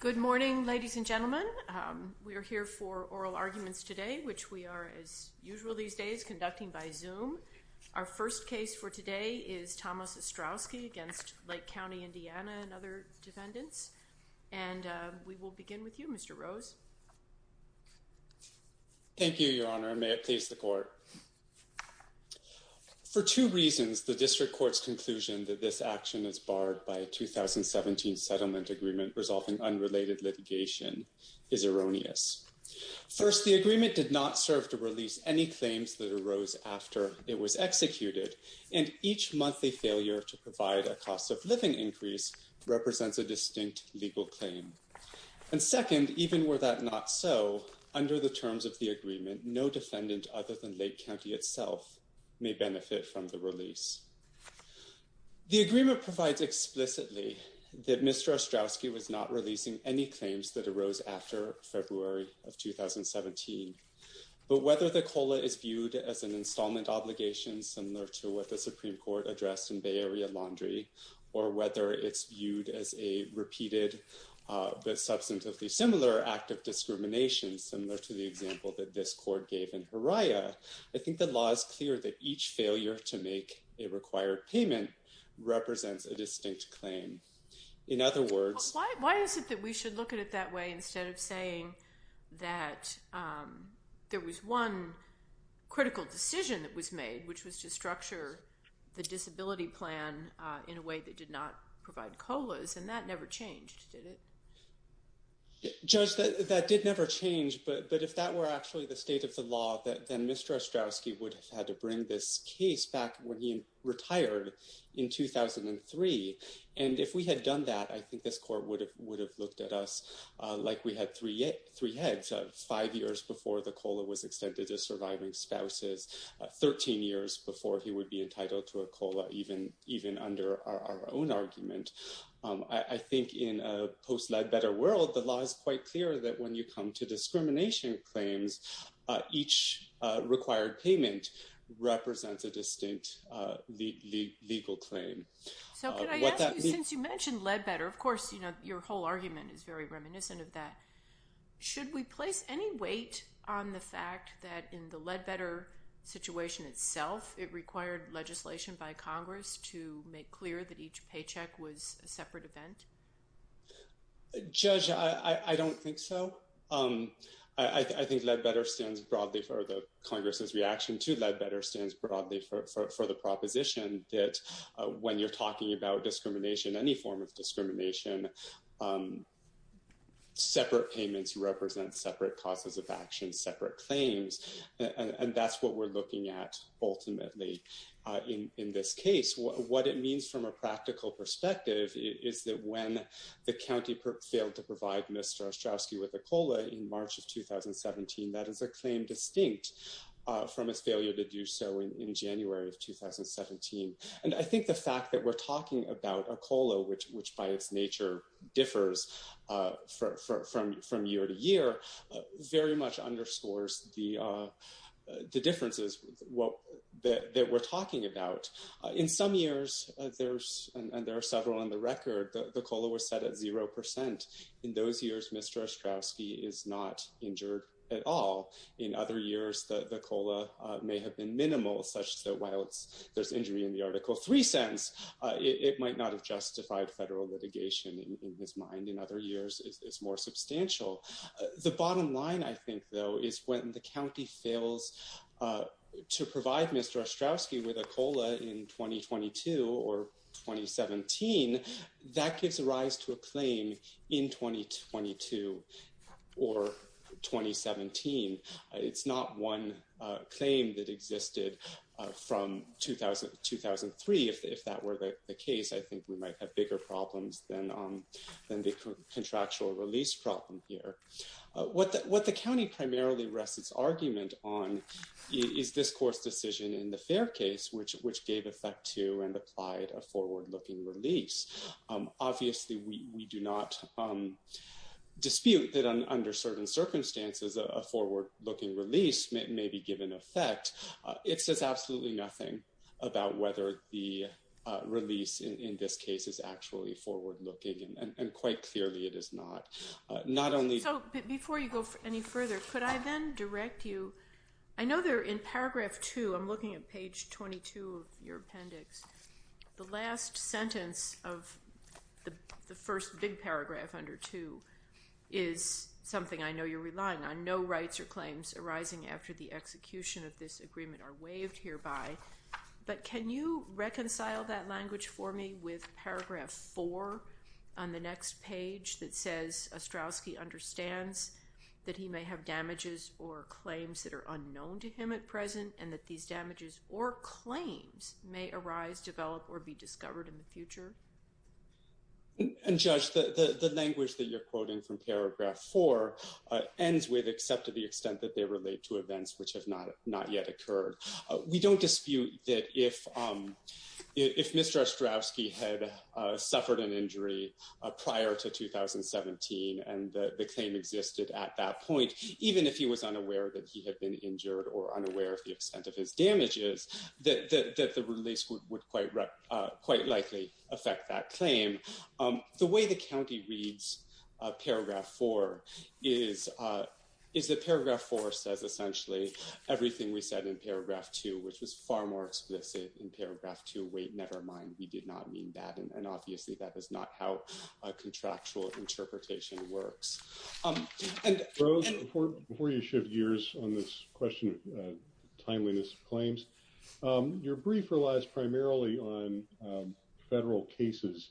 Good morning, ladies and gentlemen. We are here for oral arguments today, which we are, as usual these days, conducting by Zoom. Our first case for today is Thomas Ostrowski against Lake County, Indiana and other defendants, and we will begin with you, Mr. Rose. Thank you, Your Honor, and may it please the Court. For two reasons, the District Court's conclusion that this action is barred by a 2017 settlement agreement resolving unrelated litigation is erroneous. First, the agreement did not serve to release any claims that arose after it was executed, and each monthly failure to provide a cost-of-living increase represents a distinct legal claim. And second, even were that not so, under the terms of the agreement, no defendant other than Lake County itself may benefit from the Mr. Ostrowski was not releasing any claims that arose after February of 2017, but whether the COLA is viewed as an installment obligation, similar to what the Supreme Court addressed in Bay Area Laundry, or whether it's viewed as a repeated but substantively similar act of discrimination, similar to the example that this Court gave in Hariah, I think the law is clear that each failure to Why is it that we should look at it that way instead of saying that there was one critical decision that was made, which was to structure the disability plan in a way that did not provide COLAs, and that never changed, did it? Judge, that did never change, but if that were actually the state of the law, then Mr. Ostrowski would have had to bring this case back when he retired in 2003. And if we had done that, I think this Court would have looked at us like we had three heads, five years before the COLA was extended to surviving spouses, 13 years before he would be entitled to a COLA, even under our own argument. I think in a post-led better world, the law is quite clear that when you come to So could I ask you, since you mentioned led better, of course, you know, your whole argument is very reminiscent of that. Should we place any weight on the fact that in the led better situation itself, it required legislation by Congress to make clear that each paycheck was a separate event? Judge, I don't think so. I think led better stands broadly for the Congress's proposition that when you're talking about discrimination, any form of discrimination, separate payments represent separate causes of action, separate claims. And that's what we're looking at ultimately in this case. What it means from a practical perspective is that when the county failed to provide Mr. Ostrowski with a COLA in March of 2017, that is a claim distinct from his failure to do so in January of 2017. And I think the fact that we're talking about a COLA, which by its nature differs from year to year, very much underscores the differences that we're talking about. In some years, and there are several on the record, the COLA was set at zero percent. In those years, Mr. Ostrowski is not injured at all. In other years, the COLA may have been minimal, such that while there's injury in the Article 3 sense, it might not have justified federal litigation in his mind. In other years, it's more substantial. The bottom line, I think, though, is when the county fails to provide Mr. Ostrowski with a COLA in 2022 or 2017, that gives rise to a claim in 2022 or 2017. It's not one claim that existed from 2003. If that were the case, I think we might have bigger problems than the contractual release problem here. What the county primarily rests its argument on is this court's decision in the fair case, which gave effect to and applied a forward looking release. Obviously, we do not dispute that under certain circumstances, a forward looking release may be given effect. It says absolutely nothing about whether the release in this case is actually forward looking. And quite clearly, it is not. So before you go any further, could I then direct you? I know there in paragraph two, I'm looking at page 22 of your appendix, the last sentence of the first big paragraph under two is something I know you're relying on. No rights or claims arising after the execution of this agreement are waived hereby. But can you reconcile that language for me with paragraph four on the next page that says Ostrowski understands that he may have damages or claims that are unknown to him at present and that these damages or claims may arise, develop or be future? And judge, the language that you're quoting from paragraph four ends with except to the extent that they relate to events which have not not yet occurred. We don't dispute that if if Mr. Ostrowski had suffered an injury prior to 2017 and the claim existed at that point, even if he was unaware that he had been injured or unaware of the extent of his injury, it would likely affect that claim. The way the county reads paragraph four is is that paragraph four says essentially everything we said in paragraph two, which was far more explicit in paragraph two. Wait, never mind. We did not mean that. And obviously, that is not how a contractual interpretation works. And Rose, before you shift gears on this question of timeliness of claims, your brief relies primarily on federal cases.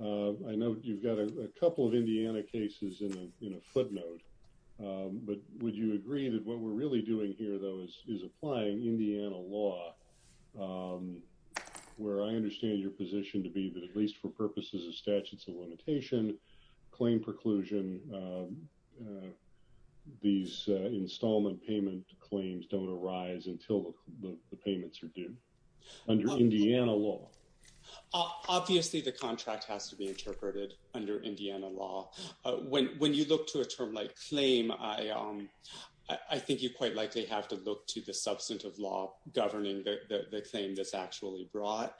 I know you've got a couple of Indiana cases in a footnote, but would you agree that what we're really doing here, though, is is applying Indiana law where I understand your position to be that at least for purposes of statutes of limitation claim preclusion, these installment payment claims don't arise until the payments are due. Under Indiana law, obviously, the contract has to be interpreted under Indiana law. When when you look to a term like claim, I think you quite likely have to look to the substantive law governing the claim that's actually brought.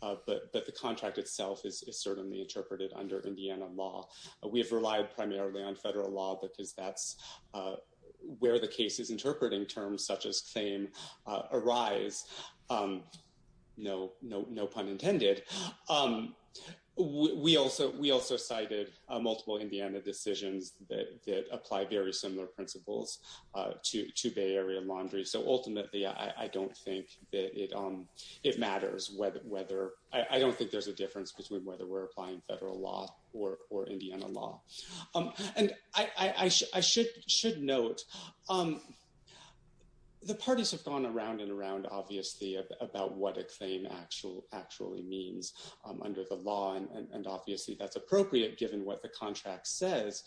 But the contract itself is certainly interpreted under Indiana law. We have relied primarily on federal law because that's where the case is interpreting terms such as claim arise. No, no, no pun intended. We also we also cited multiple Indiana decisions that apply very similar principles to to Bay Area laundry. So ultimately, I don't think that it it matters whether whether I don't think there's a difference between whether we're applying federal law or or Indiana law. And I should should note the parties have gone around and around, obviously, about what a claim actual actually means under the law. And obviously, that's appropriate given what the contract says.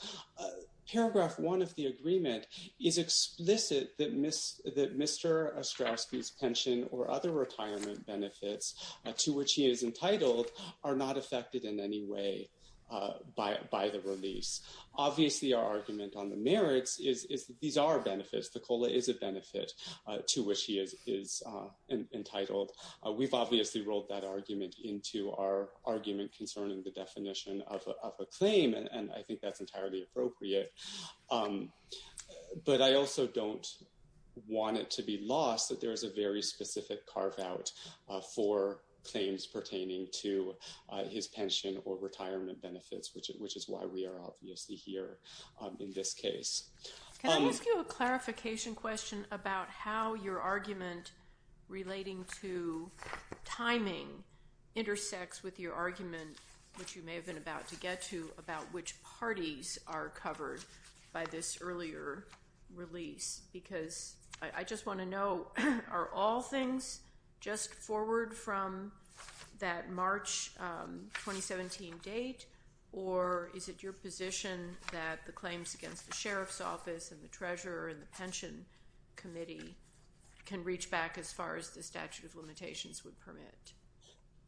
Paragraph one of the agreement is explicit that miss that Mr. Ostrowski's pension or other retirement benefits to which he is entitled are not affected in any way by by the release. Obviously, our argument on the merits is these are benefits. The cola is a benefit to which he is entitled. We've obviously rolled that argument into our argument concerning the definition of a claim. And I think that's entirely appropriate. But I also don't want it to be lost that there is a very specific carve out for claims pertaining to his pension or retirement benefits, which which is why we are obviously here in this case. Can I ask you a clarification question about how your argument relating to timing intersects with your argument, which you may have been about to get to about which parties are covered by this earlier release? Because I just want to know, are all things just forward from that March 2017 date, or is it your position that the claims against the sheriff's office and the treasurer and the pension committee can reach back as far as the statute of limitations would permit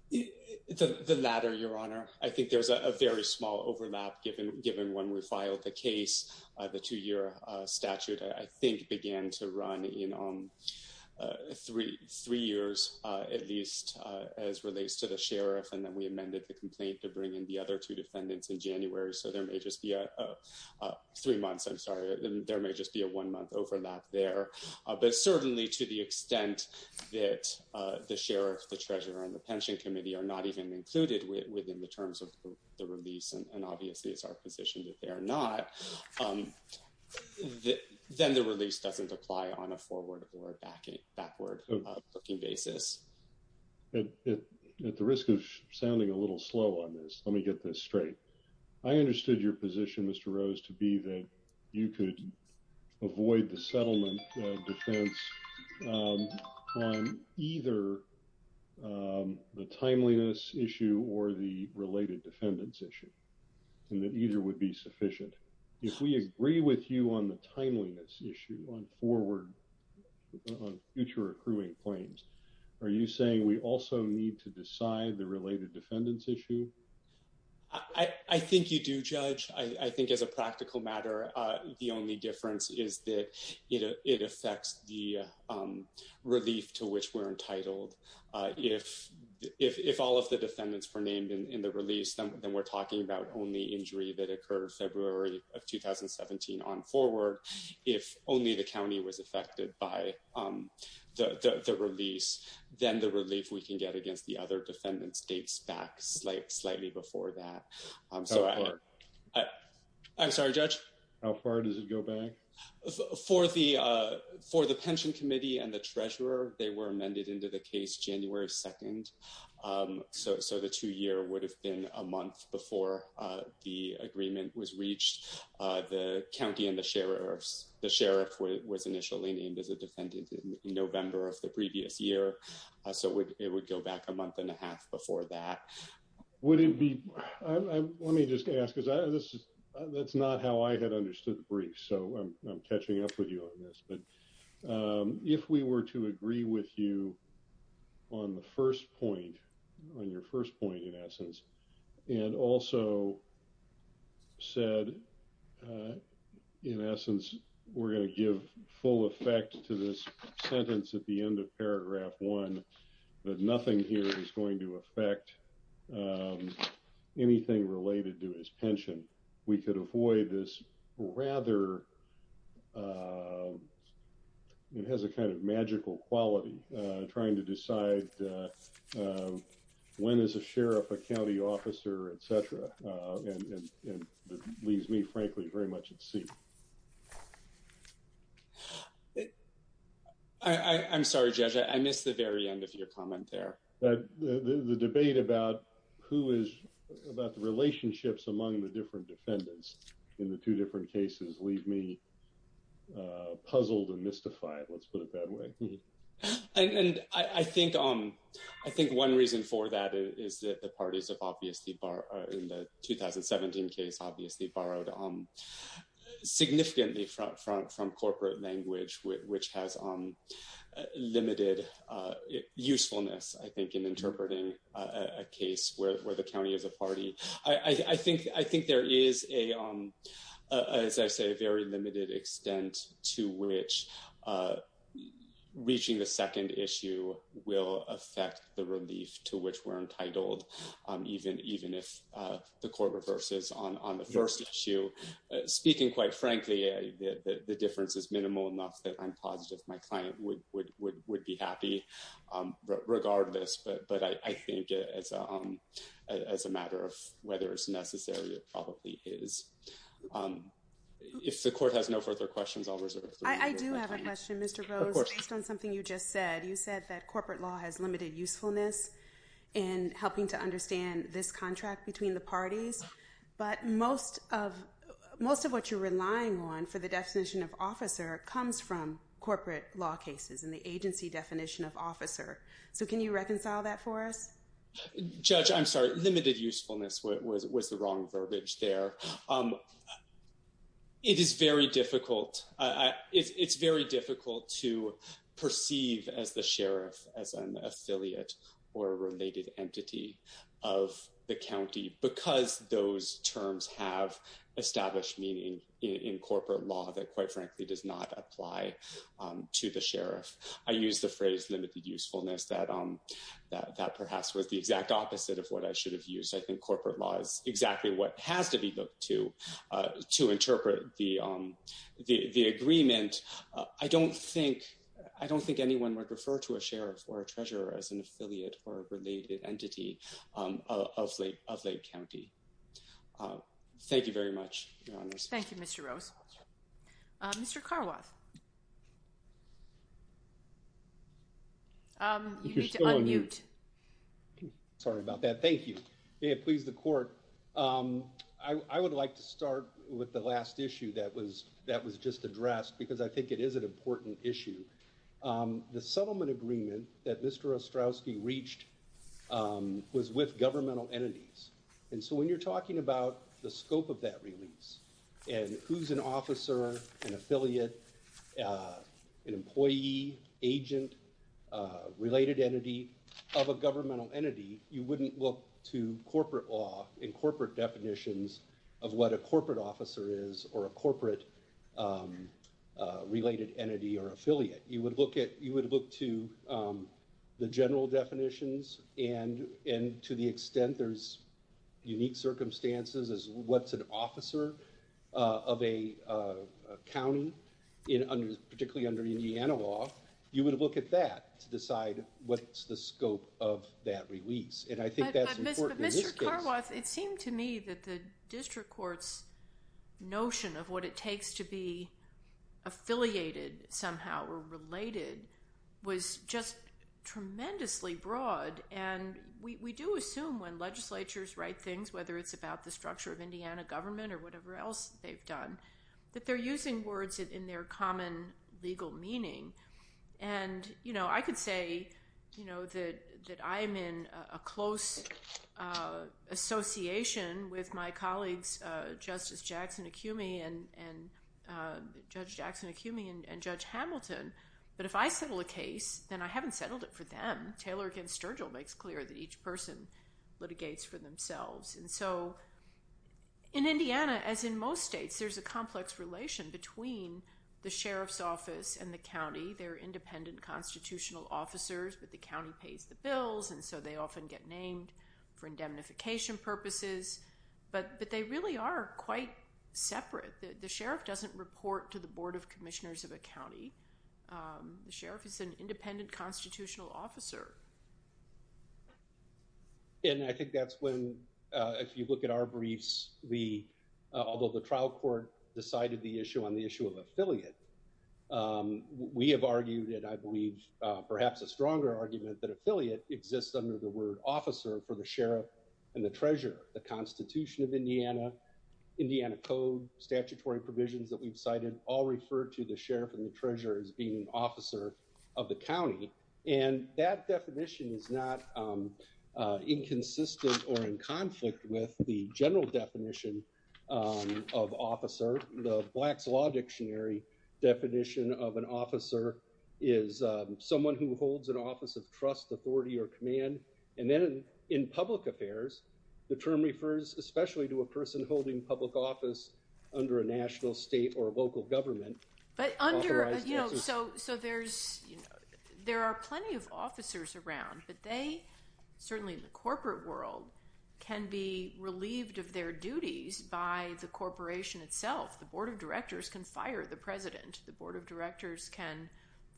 the latter? Your Honor, I think there's a very small overlap, given given when we filed the case, the two year statute, I think, began to run in on three three years, at least as relates to the sheriff. And then we amended the complaint to bring in the other two defendants in January. So there may just be three months. I'm sorry. There may just be a one month overlap there. But certainly to the extent that the sheriff, the treasurer and the pension committee are not even included within the terms of the release. And obviously, it's our position that they are not. Then the release doesn't apply on a forward or backward looking basis. At the risk of sounding a little slow on this, let me get this straight. I understood your position, Mr. Rose, to be that you could avoid the settlement defense on either the timeliness issue or the related defendants issue and that either would be sufficient. If we agree with you on the timeliness issue on forward future accruing claims, are you saying we also need to decide the related defendants issue? I think you do, Judge. I think as a practical matter, the only difference is that it affects the relief to which we're entitled. If if all of the defendants were named in the release, then we're talking about only injury that occurred February of 2017 on forward. If only the county was affected by the release, then the relief we can get against the other defendants dates back slightly before that. So I'm sorry, Judge. How far does it go back? For the for the pension committee and the treasurer, they were amended into the case January 2nd. So the two year would have been a month before the agreement was reached. The county and the sheriff's the sheriff was initially named as a defendant in November of the previous year. So it would go back a month and a half before that. Would it be? Let me just ask because this is that's not how I had understood the brief. So I'm catching up with you on this. But if we were to agree with you on the first point, on your first point, in essence, and also said, in essence, we're going to give full effect to this sentence at the end of paragraph one, that nothing here is going to affect anything related to his pension. We could avoid this rather it has a kind of magical quality trying to decide when is a sheriff, a county officer, et cetera, and it leaves me, frankly, very much at sea. I'm sorry, Judge, I missed the very end of your comment there. The debate about who is about the relationships among the different defendants in the two different cases leave me puzzled and mystified. Let's put it that way. And I think I think one reason for that is that the parties have obviously in the 2017 case obviously borrowed significantly from corporate language, which has limited usefulness, I think, in interpreting a case where the county is a party. I think I think there is a, as I say, a very limited extent to which reaching the second issue will affect the relief to which we're entitled, even if the court reverses on the first issue. Speaking quite frankly, the difference is minimal enough that I'm positive my client would be happy regardless. But I think as a matter of whether it's necessary, it probably is. If the court has no further questions, I'll reserve the floor. I do have a question, Mr. Rose, based on something you just said. You said that corporate law has limited usefulness in helping to understand this contract between the parties. But most of most of what you're relying on for the definition of officer comes from the agency definition of officer. So can you reconcile that for us? Judge, I'm sorry. Limited usefulness was the wrong verbiage there. It is very difficult. It's very difficult to perceive as the sheriff, as an affiliate or related entity of the county because those terms have established meaning in corporate law that, quite frankly, does not apply to the sheriff. I use the phrase limited usefulness that that perhaps was the exact opposite of what I should have used. I think corporate law is exactly what has to be looked to to interpret the the agreement. I don't think I don't think anyone would refer to a sheriff or a treasurer as an affiliate or a related entity of Lake County. Thank you very much. Thank you, Mr. Rose. Mr. Carwoth. You need to unmute. Sorry about that. Thank you. May it please the court. I would like to start with the last issue that was that was just addressed because I think it is an important issue. The settlement agreement that Mr. Ostrowski reached was with governmental entities. And so when you're talking about the scope of that release and who's an officer, an affiliate, an employee, agent, related entity of a governmental entity, you wouldn't look to corporate law in corporate definitions of what a corporate officer is or a corporate related entity or affiliate. You would look at you would look to the general definitions and and to the extent there's unique circumstances as what's an officer of a county in particularly under Indiana law. You would look at that to decide what's the scope of that release. And I think that's important. It seemed to me that the district court's notion of what it takes to be affiliated somehow or related was just tremendously broad. And we do assume when legislatures write things, whether it's about the structure of Indiana government or whatever else they've done, that they're using words in their common legal meaning. And, you know, I could say, you know, that that I am in a close association with my colleagues, Justice Jackson Acumi and Judge Jackson Acumi and Judge Hamilton. But if I settle a case, then I haven't settled it for them. Taylor against Sturgill makes clear that each person litigates for themselves. And so in Indiana, as in most states, there's a complex relation between the sheriff's office and the county. They're independent constitutional officers, but the county pays the bills. And so they often get named for indemnification purposes. But they really are quite separate. The sheriff doesn't report to the board of commissioners of a county. The sheriff is an independent constitutional officer. And I think that's when if you look at our briefs, we although the trial court decided the issue on the issue of affiliate, we have argued that I believe perhaps a stronger argument that affiliate exists under the word officer for the sheriff and the treasurer. The Constitution of Indiana, Indiana Code, statutory provisions that we've cited all refer to the sheriff and the treasurer as being an officer of the county. And that definition is not inconsistent or in conflict with the general definition of officer. The Black's Law Dictionary definition of an officer is someone who holds an office of trust, authority or command. And then in public affairs, the term refers especially to a person holding public office under a national, state or local government. But under, you know, so so there's, you know, there are plenty of officers around, but they certainly in the corporate world can be relieved of their duties by the corporation itself. The board of directors can fire the president. The board of directors can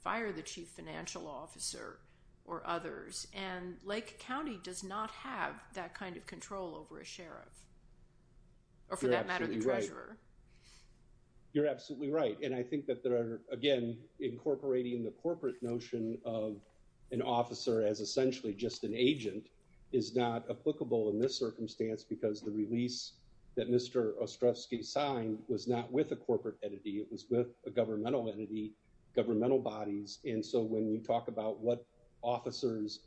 fire the chief financial officer or others. And Lake County does not have that kind of control over a sheriff. Or for that matter, the treasurer. You're absolutely right. And I think that there are, again, incorporating the corporate notion of an officer as essentially just an agent is not applicable in this circumstance because the release that Mr. Ostrowski signed was not with a corporate entity. It was with a governmental entity, governmental bodies. And so when you talk about what officers,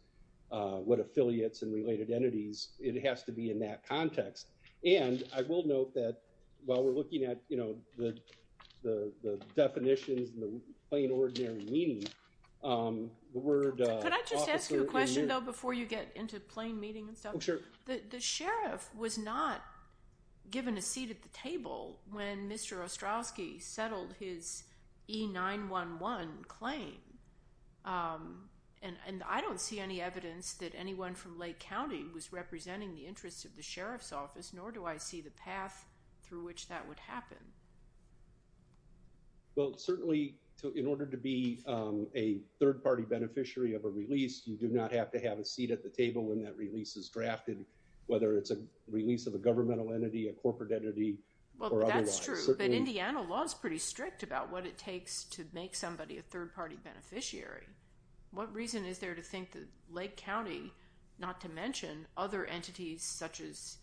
what affiliates and related entities, it has to be in that context. And I will note that while we're looking at, you know, the definitions and the plain ordinary meaning, the word. Could I just ask you a question, though, before you get into plain meeting and stuff? Sure. The sheriff was not given a seat at the table when Mr. Ostrowski settled his E911 claim. And I don't see any evidence that anyone from Lake County was representing the interest of the sheriff's office, nor do I see the path through which that would happen. Well, certainly, in order to be a third party beneficiary of a release, you do not have to have a seat at the table when that release is drafted, whether it's a release of a governmental entity, a corporate entity or otherwise. That's true. But Indiana law is pretty strict about what it takes to make somebody a third beneficiary. What reason is there to think that Lake County, not to mention other entities such as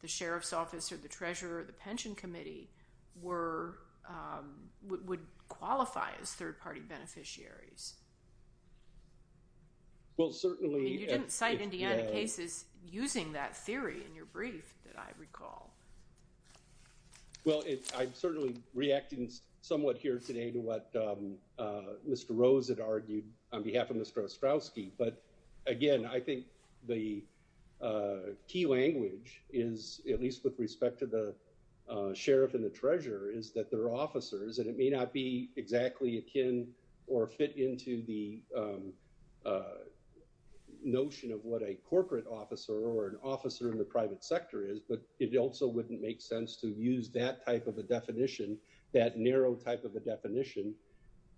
the sheriff's office or the treasurer or the pension committee, would qualify as third party beneficiaries? Well, certainly. You didn't cite Indiana cases using that theory in your brief that I recall. Well, I'm certainly reacting somewhat here today to what Mr. Rose had argued on behalf of Mr. Ostrowski. But again, I think the key language is, at least with respect to the sheriff and the treasurer, is that they're officers. And it may not be exactly akin or fit into the notion of what a corporate officer or an different entities. And so it also wouldn't make sense to use that type of a definition, that narrow type of a definition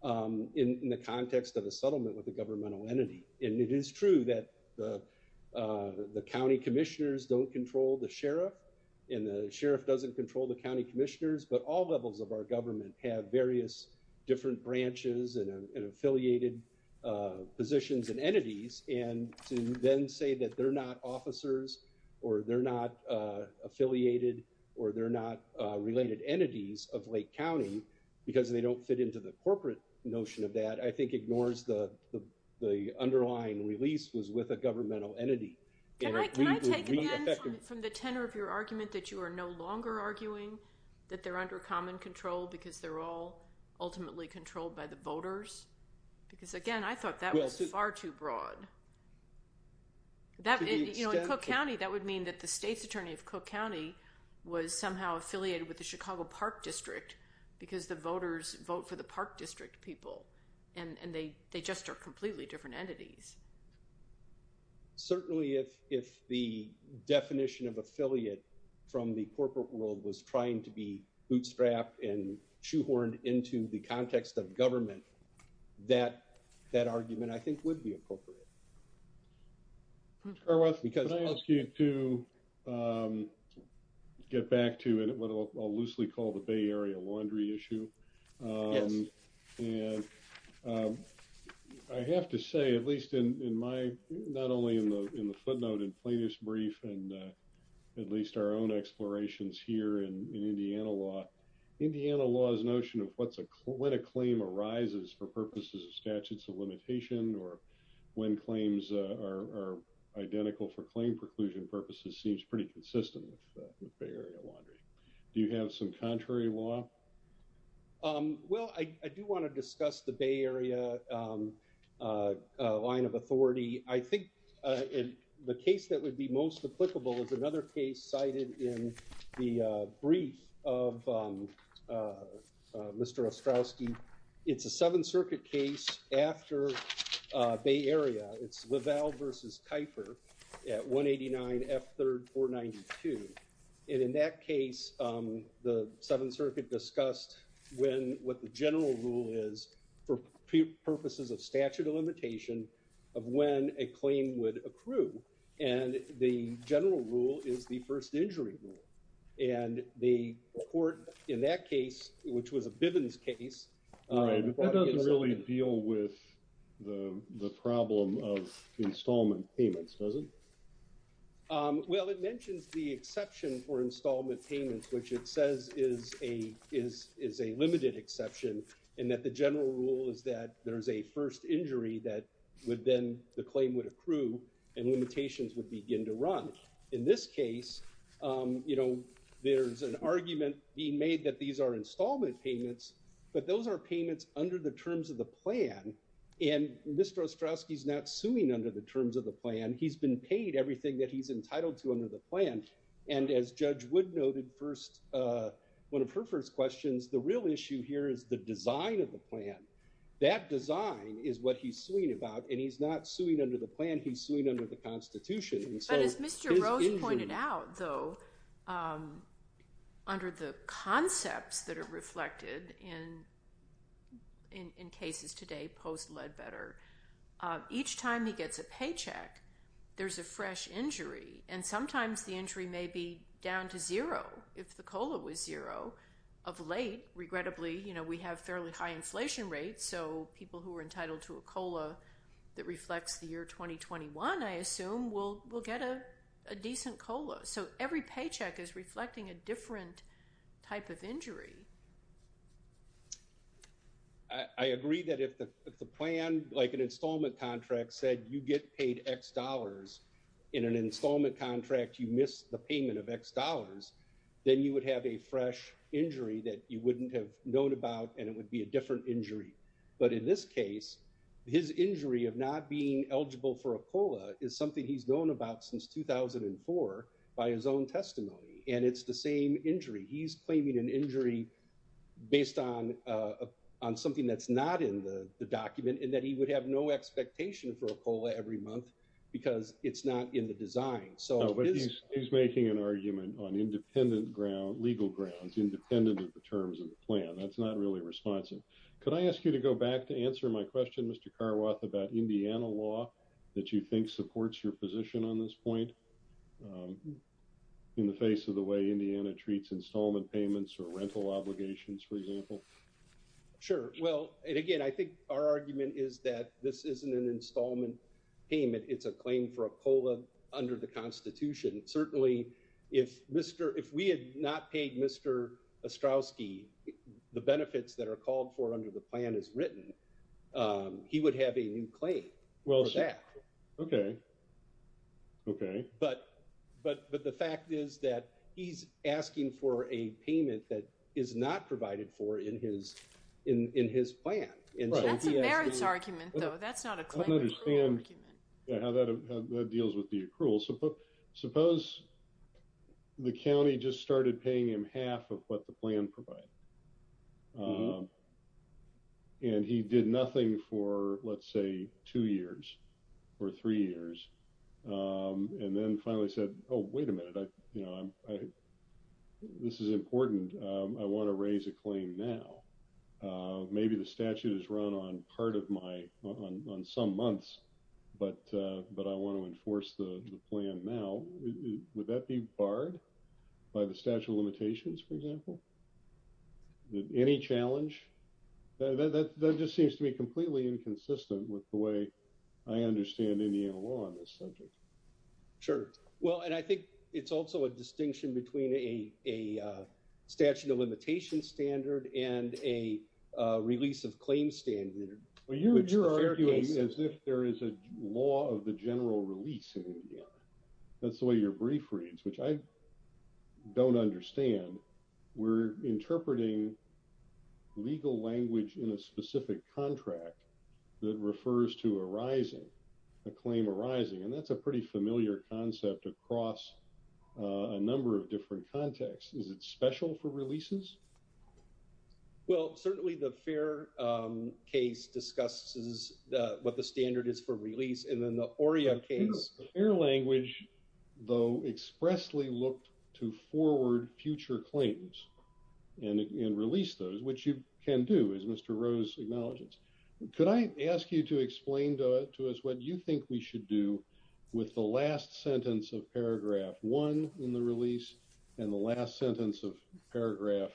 in the context of a settlement with a governmental entity. And it is true that the county commissioners don't control the sheriff and the sheriff doesn't control the county commissioners. But all levels of our government have various different branches and affiliated positions and entities. And to then say that they're not officers or they're not affiliated or they're not related entities of Lake County because they don't fit into the corporate notion of that, I think ignores the underlying release was with a governmental entity. Can I take again from the tenor of your argument that you are no longer arguing that they're under common control because they're all ultimately controlled by the voters? Because again, I thought that was far too broad. That in Cook County, that would mean that the state's attorney of Cook County was somehow affiliated with the Chicago Park District because the voters vote for the park district people and they they just are completely different entities. Certainly, if if the definition of affiliate from the corporate world was trying to be bootstrapped and shoehorned into the context of government, that that argument, I think, would be appropriate. Because I ask you to get back to what I'll loosely call the Bay Area laundry issue. And I have to say, at least in my not only in the footnote and plaintiff's brief and at least our own explorations here in Indiana law, Indiana law's notion of what's a when a claim arises for purposes of statutes of limitation or when claims are identical for claim preclusion purposes seems pretty consistent with the Bay Area laundry. Do you have some contrary law? Well, I do want to discuss the Bay Area line of authority. I think in the case that would be most applicable is another case cited in the brief of Mr. Ostrowski. It's a Seventh Circuit case after Bay Area. It's Lavelle versus Kuiper at 189 F. 3rd 492. And in that case, the Seventh Circuit discussed when what the general rule is for purposes of statute of limitation of when a claim would accrue. And the general rule is the first injury rule. And the court in that case, which was a Bivens case. All right. But that doesn't really deal with the problem of installment payments, does it? Well, it mentions the exception for installment payments, which it says is a is is a limited exception and that the general rule is that there is a first injury that would then the claim would accrue and limitations would begin to run. In this case, you know, there's an argument being made that these are installment payments, but those are payments under the terms of the plan. And Mr. Ostrowski is not suing under the terms of the plan. He's been paid everything that he's entitled to under the plan. And as Judge Wood noted first, one of her first questions, the real issue here is the design of the plan. That design is what he's suing about. And he's not suing under the plan. He's suing under the Constitution. So as Mr. Rose pointed out, though, under the concepts that are reflected in in cases today post-Ledbetter, each time he gets a paycheck, there's a fresh injury and sometimes the injury may be down to zero if the COLA was zero of late. Regrettably, you know, we have fairly high inflation rates. So people who are entitled to a COLA that reflects the year 2021, I assume, will will get a decent COLA. So every paycheck is reflecting a different type of injury. I agree that if the plan like an installment contract said you get paid X dollars in an installment contract, you miss the payment of X dollars, then you would have a fresh injury that you wouldn't have known about and it would be a different injury. But in this case, his injury of not being eligible for a COLA is something he's known about since 2004 by his own testimony. And it's the same injury. He's claiming an injury based on on something that's not in the document and that he would have no expectation for a COLA every month because it's not in the design. So he's making an argument on independent ground, legal grounds, independent of the terms of the plan. That's not really responsive. Could I ask you to go back to answer my question, Mr. Carwoth, about Indiana law that you think supports your position on this point in the case of the way Indiana treats installment payments or rental obligations, for example? Sure. Well, again, I think our argument is that this isn't an installment payment. It's a claim for a COLA under the Constitution. Certainly, if Mr. If we had not paid Mr. Ostrowski, the benefits that are called for under the plan is written. He would have a new claim. Well, OK. OK, but but but the fact is that he's asking for a payment that is not provided for in his in his plan. And that's a merits argument, though. That's not a claim. I don't understand how that deals with the accrual. Suppose the county just started paying him half of what the plan provided. And he did nothing for, let's say, two years or three years, and then finally said, oh, wait a minute, you know, this is important, I want to raise a claim now, maybe the statute is run on part of my on some months, but but I want to enforce the plan now. Would that be barred by the statute of limitations, for example? Any challenge that that just seems to be completely inconsistent with the way I understand Indiana law on this subject? Sure. Well, and I think it's also a distinction between a a statute of limitation standard and a release of claims standard. Well, you would you're arguing as if there is a law of the general release. That's the way your brief reads, which I don't understand. We're interpreting legal language in a specific contract that refers to arising a claim arising. And that's a pretty familiar concept across a number of different contexts. Is it special for releases? Well, certainly the fair case discusses what the standard is for release. And then the ARIA case, your language, though, expressly look to forward future claims and release those which you can do is Mr. Rose acknowledges. Could I ask you to explain to us what you think we should do with the last sentence of paragraph one in the release and the last sentence of paragraph?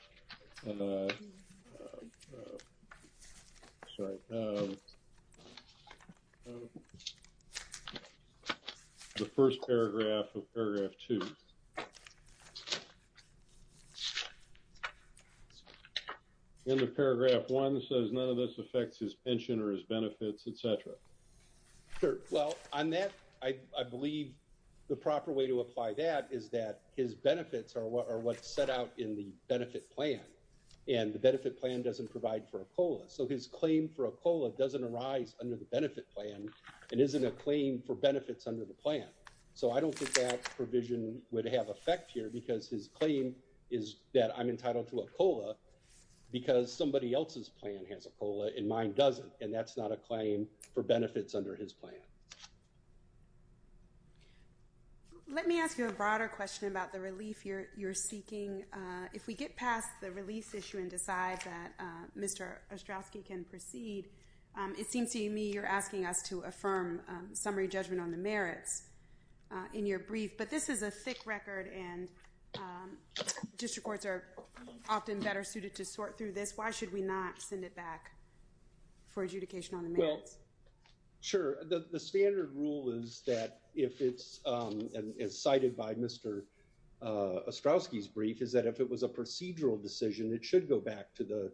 The first paragraph of paragraph two. In the paragraph, one says none of this affects his pension or his benefits, et cetera. Sure. Well, on that, I believe the proper way to apply that is that his benefits are what are what's put out in the benefit plan and the benefit plan doesn't provide for a COLA. So his claim for a COLA doesn't arise under the benefit plan and isn't a claim for benefits under the plan. So I don't think that provision would have effect here because his claim is that I'm entitled to a COLA because somebody else's plan has a COLA and mine doesn't. And that's not a claim for benefits under his plan. Let me ask you a broader question about the relief you're seeking. If we get past the release issue and decide that Mr. Ostrowski can proceed, it seems to me you're asking us to affirm summary judgment on the merits in your brief. But this is a thick record and district courts are often better suited to sort through this. Why should we not send it back for adjudication on the merits? Well, sure. The standard rule is that if it's, as cited by Mr. Ostrowski's brief, is that if it was a procedural decision, it should go back to the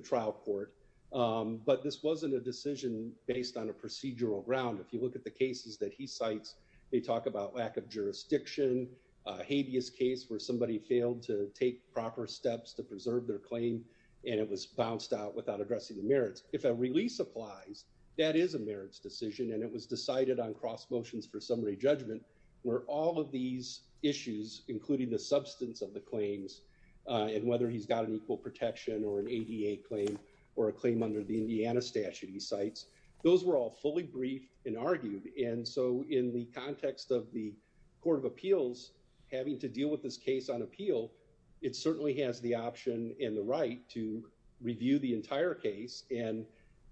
trial court. But this wasn't a decision based on a procedural ground. If you look at the cases that he cites, they talk about lack of jurisdiction, a habeas case where somebody failed to take proper steps to preserve their claim and it was bounced out without addressing the merits. If a release applies, that is a merits decision and it was decided on cross motions for summary judgment where all of these issues, including the substance of the claims and whether he's got an equal protection or an ADA claim or a claim under the Indiana statute he cites, those were all fully briefed and argued. And so in the context of the Court of Appeals having to deal with this case on appeal, it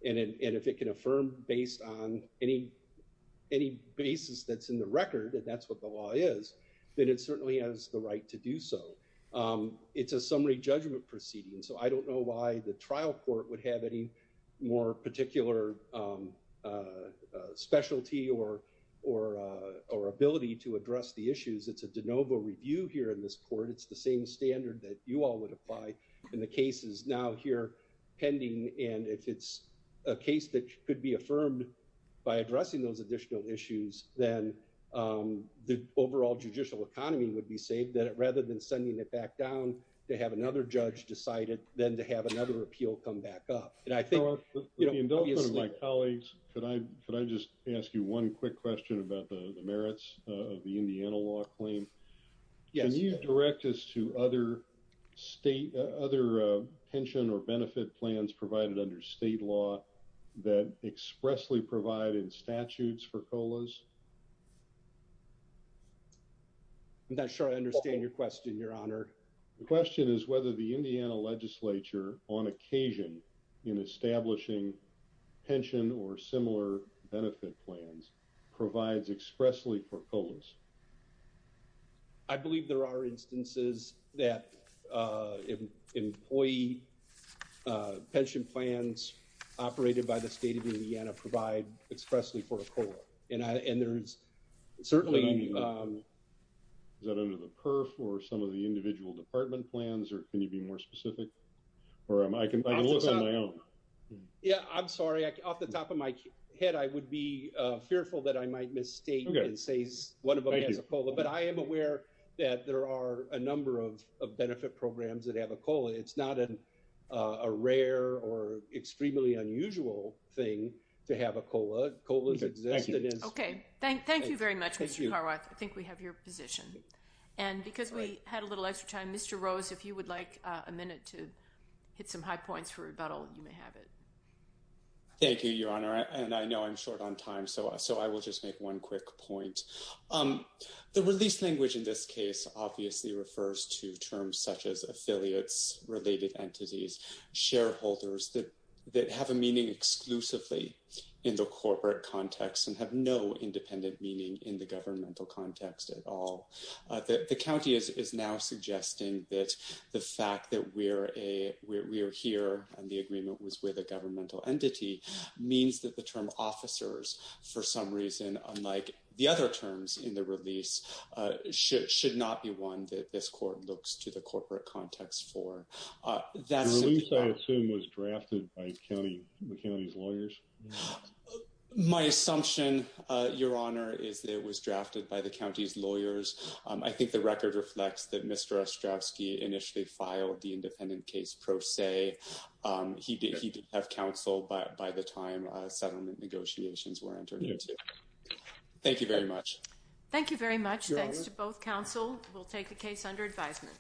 and if it can affirm based on any basis that's in the record, and that's what the law is, then it certainly has the right to do so. It's a summary judgment proceeding. So I don't know why the trial court would have any more particular specialty or ability to address the issues. It's a de novo review here in this court. It's the same standard that you all would apply in the cases now here pending. And if it's a case that could be affirmed by addressing those additional issues, then the overall judicial economy would be saved rather than sending it back down to have another judge decide it, then to have another appeal come back up. And I think, you know, obviously... Well, with the indulgence of my colleagues, could I just ask you one quick question about the merits of the Indiana law claim? Yes. Can you direct us to other pension or benefit plans provided under state law that expressly provide in statutes for COLAs? I'm not sure I understand your question, Your Honor. The question is whether the Indiana legislature on occasion in establishing pension or similar benefit plans provides expressly for COLAs. I believe there are instances that employee pension plans operated by the state of Indiana provide expressly for a COLA, and there's certainly... Is that under the PERF or some of the individual department plans, or can you be more specific? Or I can look on my own. Yeah, I'm sorry. Off the top of my head, I would be fearful that I might misstate and say one of the things as a COLA, but I am aware that there are a number of benefit programs that have a COLA. It's not a rare or extremely unusual thing to have a COLA. COLA's existed as... Okay. Thank you very much, Mr. Carwath. I think we have your position. And because we had a little extra time, Mr. Rose, if you would like a minute to hit some high points for rebuttal, you may have it. Thank you, Your Honor. And I know I'm short on time, so I will just make one quick point. The release language in this case obviously refers to terms such as affiliates, related entities, shareholders that have a meaning exclusively in the corporate context and have no independent meaning in the governmental context at all. The county is now suggesting that the fact that we're here and the agreement was with a governmental entity means that the term officers, for some reason, unlike the other terms in the release, should not be one that this court looks to the corporate context for. The release, I assume, was drafted by the county's lawyers? My assumption, Your Honor, is that it was drafted by the county's lawyers. I think the record reflects that Mr. Ostrowski initially filed the independent case pro se. He did have counsel by the time settlement negotiations were entered into. Thank you very much. Thank you very much. Thanks to both counsel. We'll take the case under advisement.